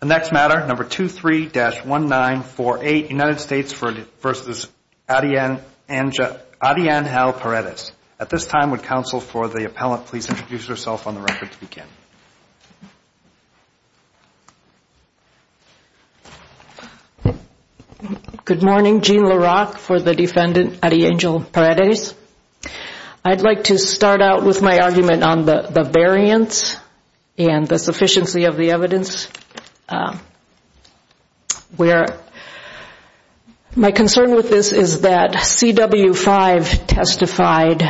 The next matter, number 23-1948, United States v. Arianjel Paredes. At this time, would counsel for the appellant please introduce herself on the record to begin. Good morning. Jean LaRocque for the defendant, Arianjel Paredes. I'd like to start out with my argument on the variance and the sufficiency of the evidence. My concern with this is that CW5 testified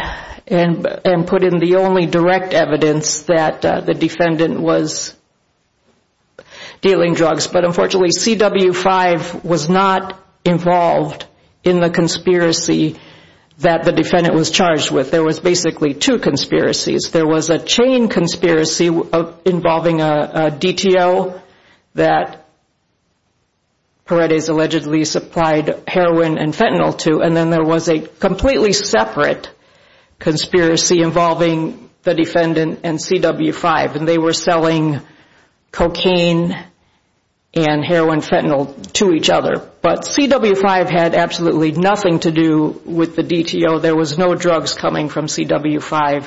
and put in the only direct evidence that the defendant was dealing drugs. But unfortunately, CW5 was not involved in the conspiracy that the defendant was charged with. There was basically two conspiracies. There was a chain conspiracy involving a DTO that Paredes allegedly supplied heroin and fentanyl to. And then there was a completely separate conspiracy involving the defendant and CW5. And they were selling cocaine and heroin and fentanyl to each other. But CW5 had absolutely nothing to do with the DTO. There was no drugs coming from CW5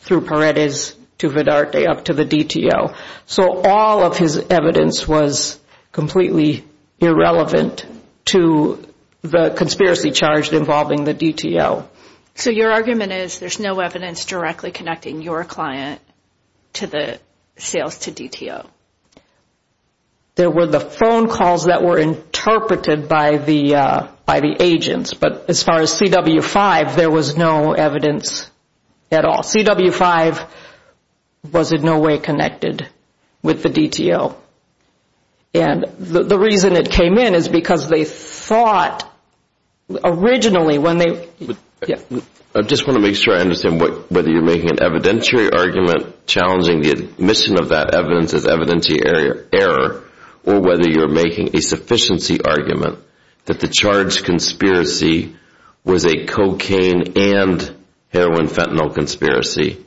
through Paredes to Vedarte up to the DTO. So all of his evidence was completely irrelevant to the conspiracy charged involving the DTO. So your argument is there's no evidence directly connecting your client to the sales to DTO. There were the phone calls that were interpreted by the agents. But as far as CW5, there was no evidence at all. CW5 was in no way connected with the DTO. And the reason it came in is because they thought originally when they- I just want to make sure I understand whether you're making an evidentiary argument challenging the admission of that evidence as evidentiary error or whether you're making a sufficiency argument that the charged conspiracy was a cocaine and heroin-fentanyl conspiracy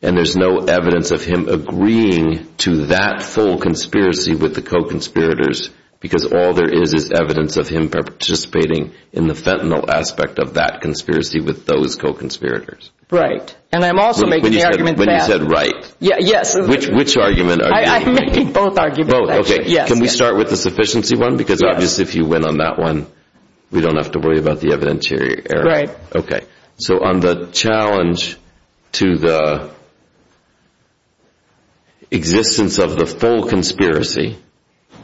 and there's no evidence of him agreeing to that full conspiracy with the co-conspirators because all there is is evidence of him participating in the fentanyl aspect of that conspiracy with those co-conspirators. Right. And I'm also making the argument that- When you said right. Yes. Which argument are you making? I'm making both arguments actually. Can we start with the sufficiency one? Because obviously if you win on that one, we don't have to worry about the evidentiary error. Right. Okay. So on the challenge to the existence of the full conspiracy,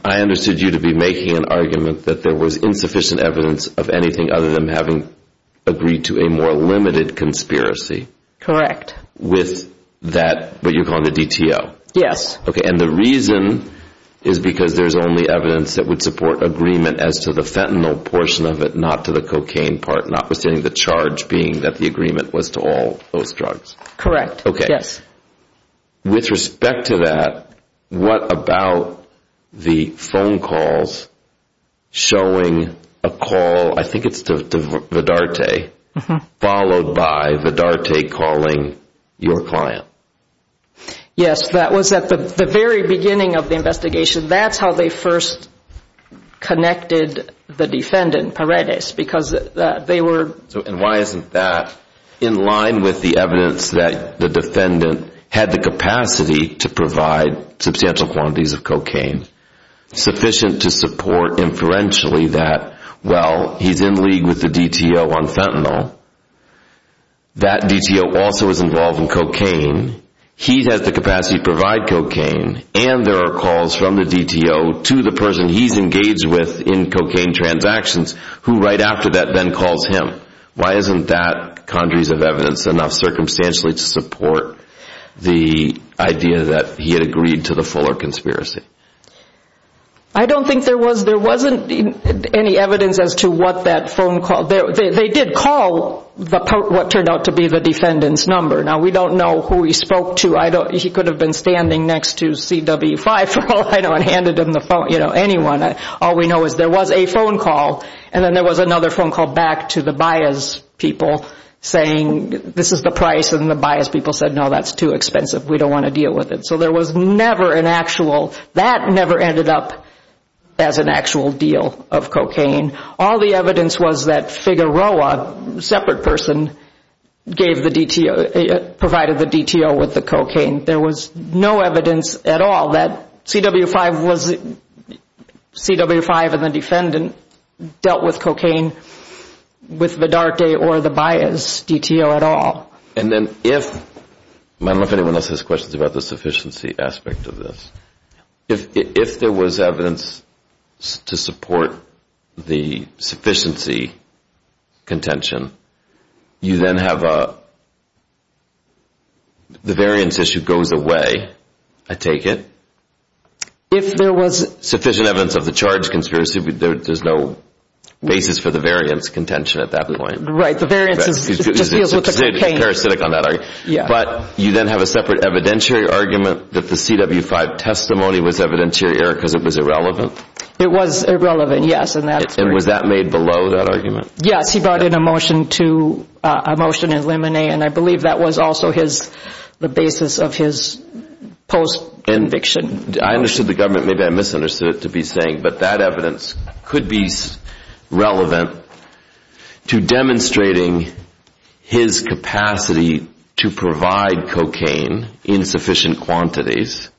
I understood you to be making an argument that there was insufficient evidence of anything other than having agreed to a more limited conspiracy. Correct. With that, what you're calling the DTO. Yes. Okay. And the reason is because there's only evidence that would support agreement as to the fentanyl portion of it, not to the cocaine part, notwithstanding the charge being that the agreement was to all those drugs. Correct. Okay. Yes. With respect to that, what about the phone calls showing a call, I think it's to Vidarte, followed by Vidarte calling your client? Yes, that was at the very beginning of the investigation. That's how they first connected the defendant, Paredes, because they were And why isn't that in line with the evidence that the defendant had the capacity to provide substantial quantities of cocaine, sufficient to support inferentially that, well, he's in league with the DTO on fentanyl. That DTO also is involved in cocaine. He has the capacity to provide cocaine. And there are calls from the DTO to the person he's engaged with in cocaine transactions, who right after that then calls him. Why isn't that conjuries of evidence enough circumstantially to support the idea that he had agreed to the Fuller conspiracy? I don't think there was. There wasn't any evidence as to what that phone call. They did call what turned out to be the defendant's number. Now, we don't know who he spoke to. He could have been standing next to CW5 for a while and handed him the phone, you know, anyone. All we know is there was a phone call. And then there was another phone call back to the Baez people saying this is the price. And the Baez people said, no, that's too expensive. We don't want to deal with it. So there was never an actual, that never ended up as an actual deal of cocaine. All the evidence was that Figueroa, a separate person, gave the DTO, provided the DTO with the cocaine. There was no evidence at all that CW5 was, CW5 and the defendant dealt with cocaine with Vidarte or the Baez DTO at all. And then if, I don't know if anyone else has questions about the sufficiency aspect of this, if there was evidence to support the sufficiency contention, you then have a, the variance issue goes away, I take it. If there was sufficient evidence of the charge conspiracy, there's no basis for the variance contention at that point. Right, the variance is just deals with the cocaine. But you then have a separate evidentiary argument that the CW5 testimony was evidentiary error because it was irrelevant. It was irrelevant, yes. And was that made below that argument? Yes, he brought in a motion to, a motion in limine, and I believe that was also his, the basis of his post conviction. I understood the government, maybe I misunderstood it to be saying, but that evidence could be relevant to demonstrating his capacity to provide cocaine in sufficient quantities,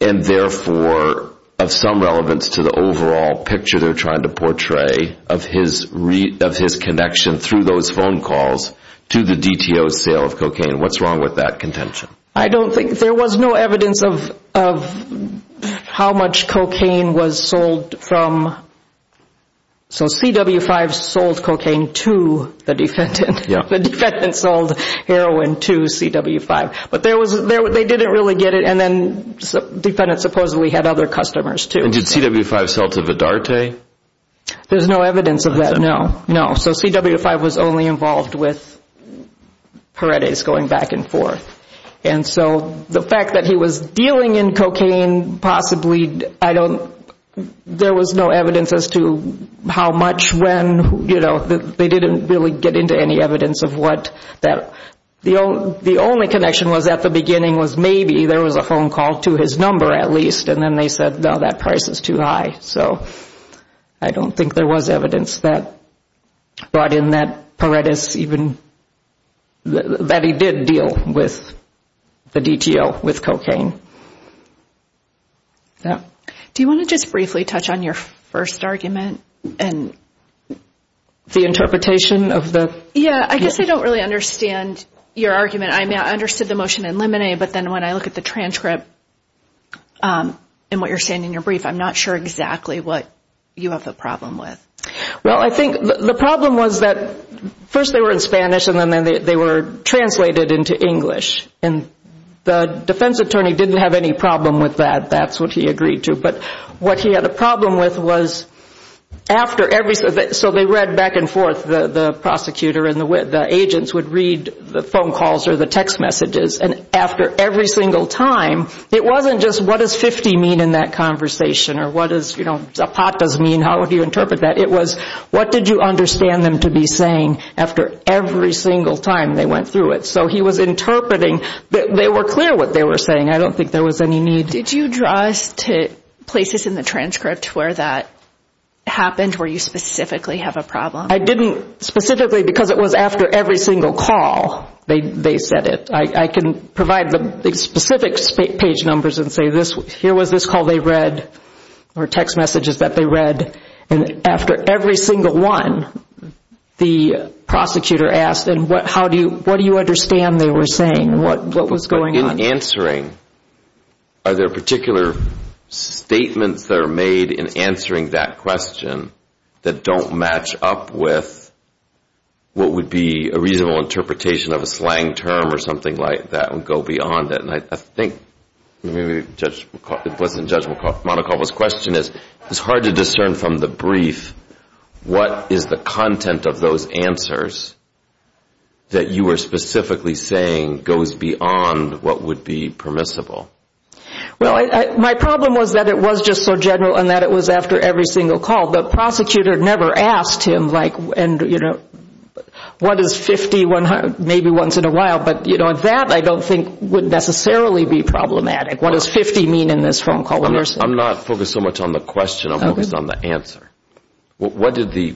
and therefore of some relevance to the overall picture they're trying to portray of his connection through those phone calls to the DTO's sale of cocaine. What's wrong with that contention? I don't think, there was no evidence of how much cocaine was sold from, so CW5 sold cocaine to the defendant, the defendant sold heroin to CW5. But there was, they didn't really get it, and then the defendant supposedly had other customers too. And did CW5 sell to Vidarte? There's no evidence of that, no, no. So CW5 was only involved with Heredes going back and forth. And so the fact that he was dealing in cocaine possibly, I don't, there was no evidence as to how much when, you know, they didn't really get into any evidence of what that, the only connection was at the beginning was maybe there was a phone call to his number at least, and then they said, no, that price is too high. So I don't think there was evidence that brought in that Heredes even, that he did deal with the DTO with cocaine. Do you want to just briefly touch on your first argument? The interpretation of the? Yeah, I guess I don't really understand your argument. I understood the motion in Lemonade, but then when I look at the transcript and what you're saying in your brief, I'm not sure exactly what you have a problem with. Well, I think the problem was that first they were in Spanish, and then they were translated into English. And the defense attorney didn't have any problem with that, that's what he agreed to. But what he had a problem with was after every, so they read back and forth, the prosecutor and the agents would read the phone calls or the text messages. And after every single time, it wasn't just what does 50 mean in that conversation or what does, you know, a pot does mean, how would you interpret that? It was what did you understand them to be saying after every single time they went through it. So he was interpreting, they were clear what they were saying. I don't think there was any need. Did you draw us to places in the transcript where that happened, where you specifically have a problem? I didn't specifically because it was after every single call they said it. I can provide the specific page numbers and say here was this call they read or text messages that they read. And after every single one, the prosecutor asked, and what do you understand they were saying? What was going on? So in answering, are there particular statements that are made in answering that question that don't match up with what would be a reasonable interpretation of a slang term or something like that and go beyond it? I think Judge Monacovo's question is, it's hard to discern from the brief what is the content of those answers that you were specifically saying goes beyond what would be permissible. Well, my problem was that it was just so general and that it was after every single call. The prosecutor never asked him what is 50, 100, maybe once in a while, but that I don't think would necessarily be problematic. What does 50 mean in this phone call? I'm not focused so much on the question. I'm focused on the answer. What did the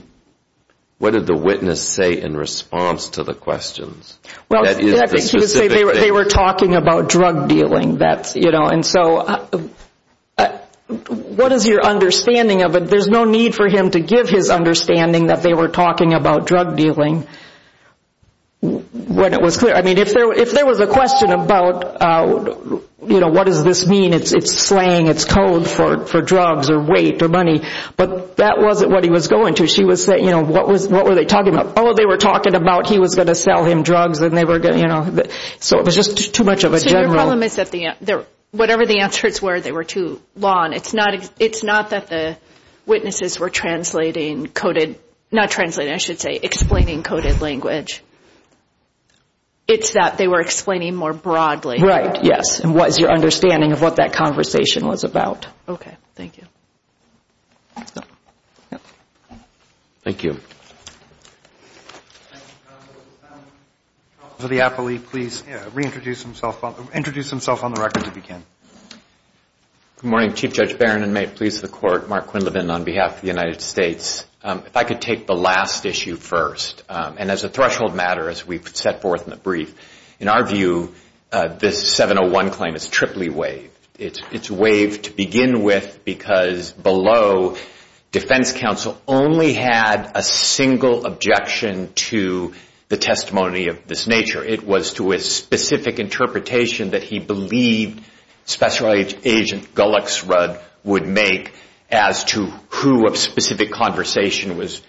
witness say in response to the questions? They were talking about drug dealing. And so what is your understanding of it? There's no need for him to give his understanding that they were talking about drug dealing when it was clear. I mean, if there was a question about what does this mean, it's slang, it's code for drugs or weight or money, but that wasn't what he was going to. What were they talking about? Oh, they were talking about he was going to sell him drugs. So it was just too much of a general. So your problem is that whatever the answers were, they were too long. It's not that the witnesses were translating coded, not translating, I should say explaining coded language. It's that they were explaining more broadly. Right, yes. And what is your understanding of what that conversation was about? Okay, thank you. Thank you. Counsel to the appellee, please reintroduce himself on the record if you can. Good morning, Chief Judge Barron, and may it please the Court, Mark Quinlivan on behalf of the United States. If I could take the last issue first. And as a threshold matter, as we've set forth in the brief, in our view, this 701 claim is triply waived. It's waived to begin with because below, Defense Counsel only had a single objection to the testimony of this nature. It was to a specific interpretation that he believed Special Agent Gullixrud would make as to who a specific conversation was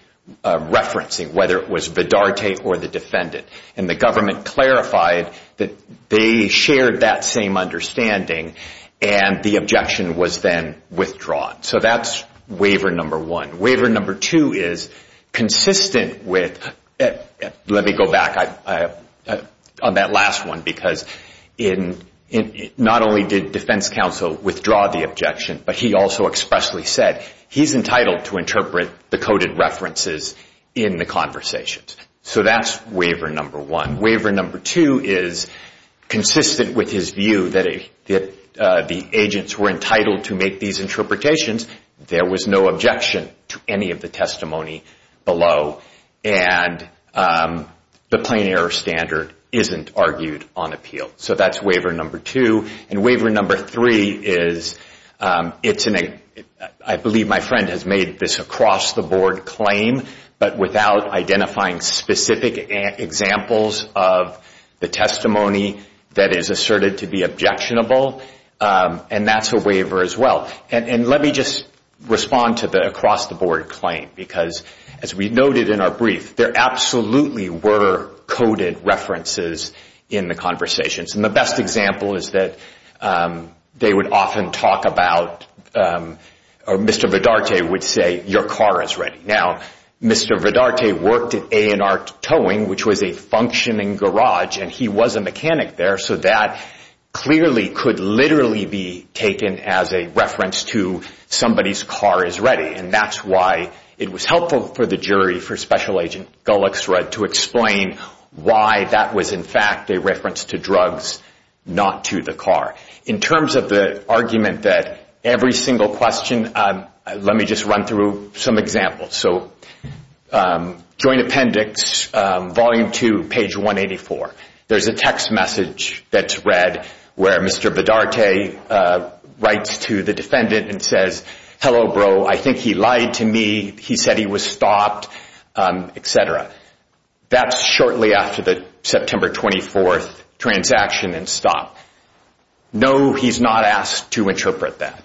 referencing, whether it was Vidarte or the defendant. And the government clarified that they shared that same understanding, and the objection was then withdrawn. So that's waiver number one. Waiver number two is consistent with, let me go back on that last one, because not only did Defense Counsel withdraw the objection, but he also expressly said he's entitled to interpret the coded references in the conversations. So that's waiver number one. Waiver number two is consistent with his view that the agents were entitled to make these interpretations. There was no objection to any of the testimony below, and the plain error standard isn't argued on appeal. So that's waiver number two. And waiver number three is, I believe my friend has made this across-the-board claim, but without identifying specific examples of the testimony that is asserted to be objectionable, and that's a waiver as well. And let me just respond to the across-the-board claim, because as we noted in our brief, there absolutely were coded references in the conversations. And the best example is that they would often talk about, or Mr. Vedarte would say, your car is ready. Now, Mr. Vedarte worked at A&R Towing, which was a functioning garage, and he was a mechanic there, so that clearly could literally be taken as a reference to somebody's car is ready. And that's why it was helpful for the jury, for Special Agent Gullixrud, to explain why that was in fact a reference to drugs, not to the car. In terms of the argument that every single question, let me just run through some examples. So joint appendix, volume two, page 184. There's a text message that's read where Mr. Vedarte writes to the defendant and says, hello, bro, I think he lied to me, he said he was stopped, et cetera. That's shortly after the September 24th transaction and stop. No, he's not asked to interpret that.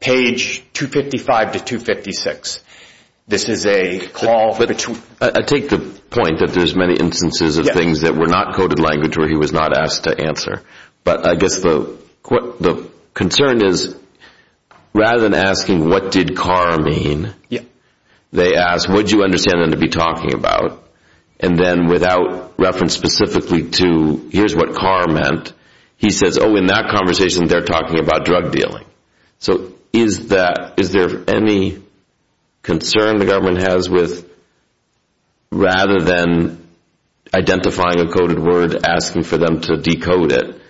Page 255 to 256, this is a call between. I take the point that there's many instances of things that were not coded language where he was not asked to answer. But I guess the concern is rather than asking what did car mean, they ask would you understand them to be talking about, and then without reference specifically to here's what car meant, he says, oh, in that conversation they're talking about drug dealing. So is there any concern the government has with, rather than identifying a coded word, asking for them to decode it,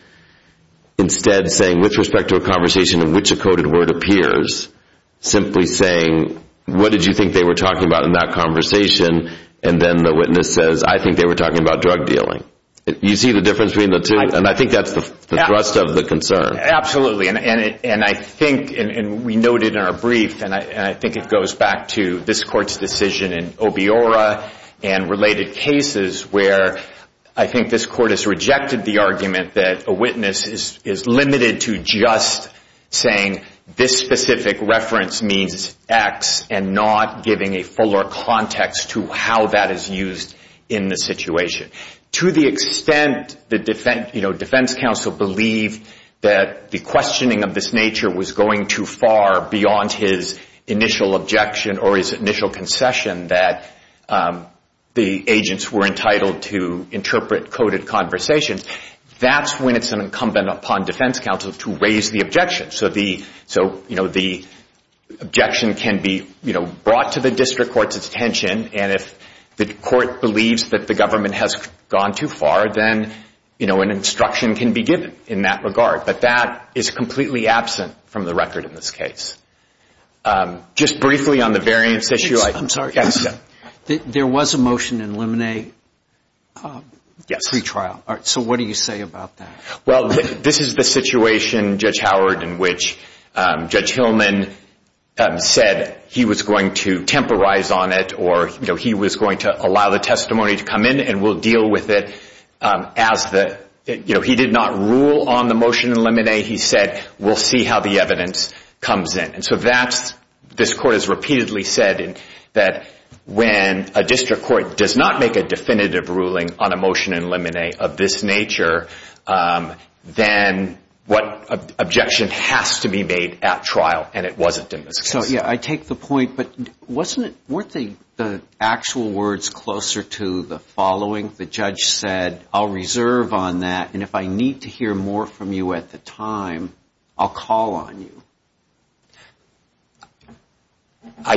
instead saying with respect to a conversation in which a coded word appears, simply saying what did you think they were talking about in that conversation, and then the witness says I think they were talking about drug dealing. You see the difference between the two? And I think that's the thrust of the concern. Absolutely, and I think, and we noted in our brief, and I think it goes back to this Court's decision in Obiora and related cases where I think this Court has rejected the argument that a witness is limited to just saying this specific reference means X and not giving a fuller context to how that is used in the situation. To the extent that defense counsel believed that the questioning of this nature was going too far beyond his initial objection or his initial concession that the agents were entitled to interpret coded conversations, that's when it's incumbent upon defense counsel to raise the objection. So the objection can be brought to the district court's attention, and if the court believes that the government has gone too far, then an instruction can be given in that regard. But that is completely absent from the record in this case. Just briefly on the variance issue. I'm sorry. Yes, sir. There was a motion in Lemonet pre-trial. So what do you say about that? Well, this is the situation, Judge Howard, in which Judge Hillman said he was going to temporize on it or he was going to allow the testimony to come in and we'll deal with it as the, you know, he did not rule on the motion in Lemonet. He said we'll see how the evidence comes in. And so this court has repeatedly said that when a district court does not make a definitive ruling on a motion in Lemonet of this nature, then what objection has to be made at trial, and it wasn't in this case. So, yeah, I take the point, but weren't the actual words closer to the following? The judge said, I'll reserve on that, and if I need to hear more from you at the time, I'll call on you. I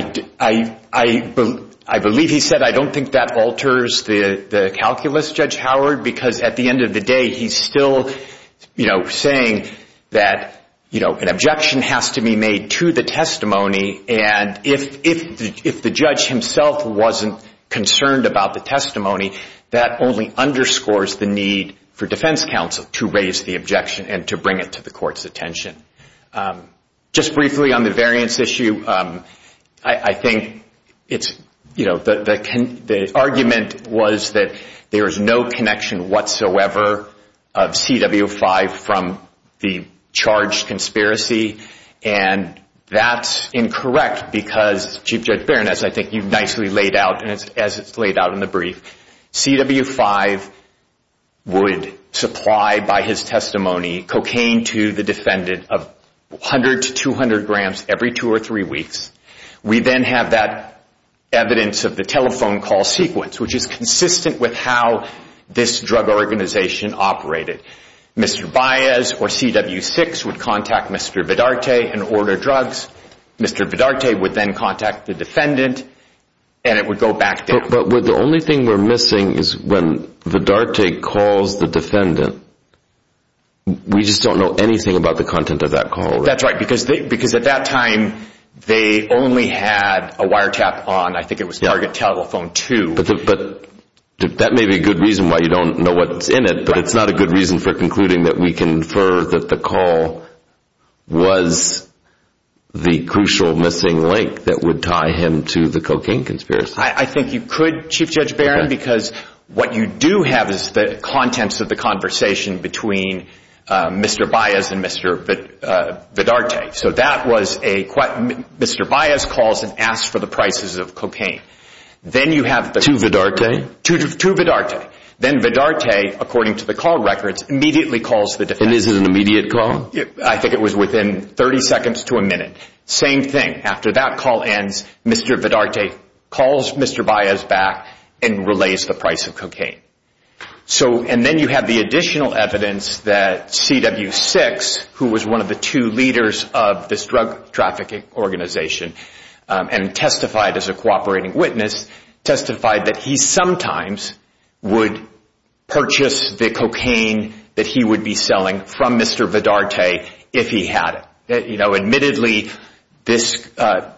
believe he said I don't think that alters the calculus, Judge Howard, because at the end of the day he's still, you know, saying that, you know, an objection has to be made to the testimony, and if the judge himself wasn't concerned about the testimony, that only underscores the need for defense counsel to raise the objection and to bring it to the court's attention. Just briefly on the variance issue, I think it's, you know, the argument was that there is no connection whatsoever of CW5 from the charged conspiracy, and that's incorrect because, Chief Judge Berenice, I think you've nicely laid out, and as it's laid out in the brief, CW5 would supply, by his testimony, cocaine to the defendant of 100 to 200 grams every two or three weeks. We then have that evidence of the telephone call sequence, which is consistent with how this drug organization operated. Mr. Baez or CW6 would contact Mr. Vidarte and order drugs. Mr. Vidarte would then contact the defendant, and it would go back down. But the only thing we're missing is when Vidarte calls the defendant. We just don't know anything about the content of that call. That's right, because at that time they only had a wiretap on, I think it was Target Telephone 2. But that may be a good reason why you don't know what's in it, but it's not a good reason for concluding that we confer that the call was the crucial missing link that would tie him to the cocaine conspiracy. I think you could, Chief Judge Berenice, because what you do have is the contents of the conversation between Mr. Baez and Mr. Vidarte. Mr. Baez calls and asks for the prices of cocaine. To Vidarte? To Vidarte. Then Vidarte, according to the call records, immediately calls the defendant. And this is an immediate call? I think it was within 30 seconds to a minute. Same thing. After that call ends, Mr. Vidarte calls Mr. Baez back and relays the price of cocaine. And then you have the additional evidence that CW6, who was one of the two leaders of this drug trafficking organization and testified as a cooperating witness, testified that he sometimes would purchase the cocaine that he would be selling from Mr. Vidarte if he had it. Admittedly, Mr.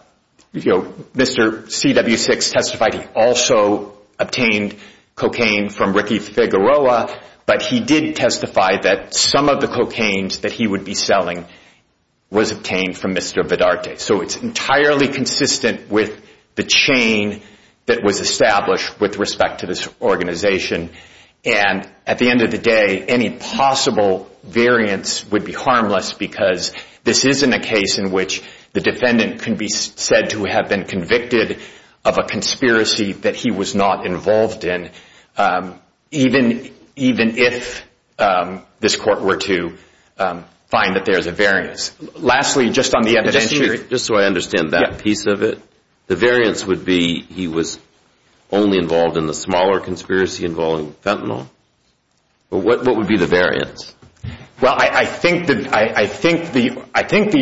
CW6 testified he also obtained cocaine from Ricky Figueroa, but he did testify that some of the cocaines that he would be selling was obtained from Mr. Vidarte. So it's entirely consistent with the chain that was established with respect to this organization. And at the end of the day, any possible variance would be harmless because this isn't a case in which the defendant can be said to have been convicted of a conspiracy that he was not involved in, even if this court were to find that there is a variance. Lastly, just on the evidentiary. Just so I understand that piece of it. The variance would be he was only involved in the smaller conspiracy involving fentanyl? What would be the variance? Well, I think the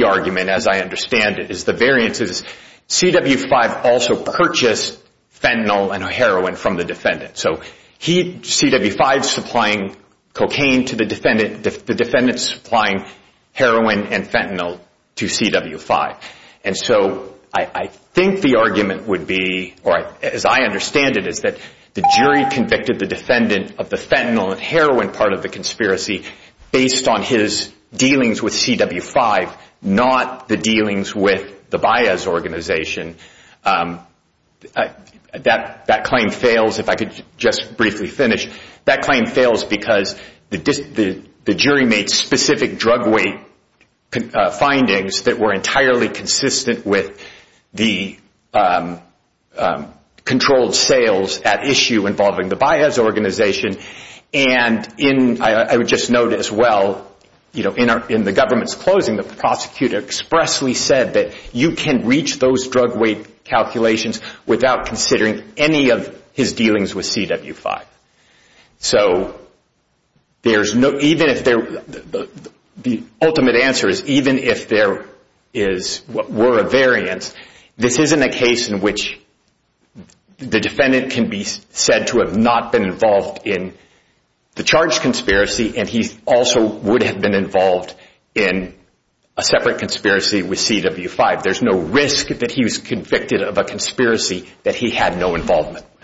argument, as I understand it, is the variance is CW5 also purchased fentanyl and heroin from the defendant. So CW5 supplying cocaine to the defendant, the defendant supplying heroin and fentanyl to CW5. And so I think the argument would be, or as I understand it, is that the jury convicted the defendant of the fentanyl and heroin part of the conspiracy based on his dealings with CW5, not the dealings with the Baez organization. That claim fails, if I could just briefly finish. That claim fails because the jury made specific drug weight findings that were entirely consistent with the controlled sales at issue involving the Baez organization. And I would just note as well, in the government's closing, the prosecutor expressly said that you can reach those drug weight calculations without considering any of his dealings with CW5. So the ultimate answer is even if there were a variance, this isn't a case in which the defendant can be said to have not been involved in the charged conspiracy and he also would have been involved in a separate conspiracy with CW5. There's no risk that he was convicted of a conspiracy that he had no involvement with. Thank you.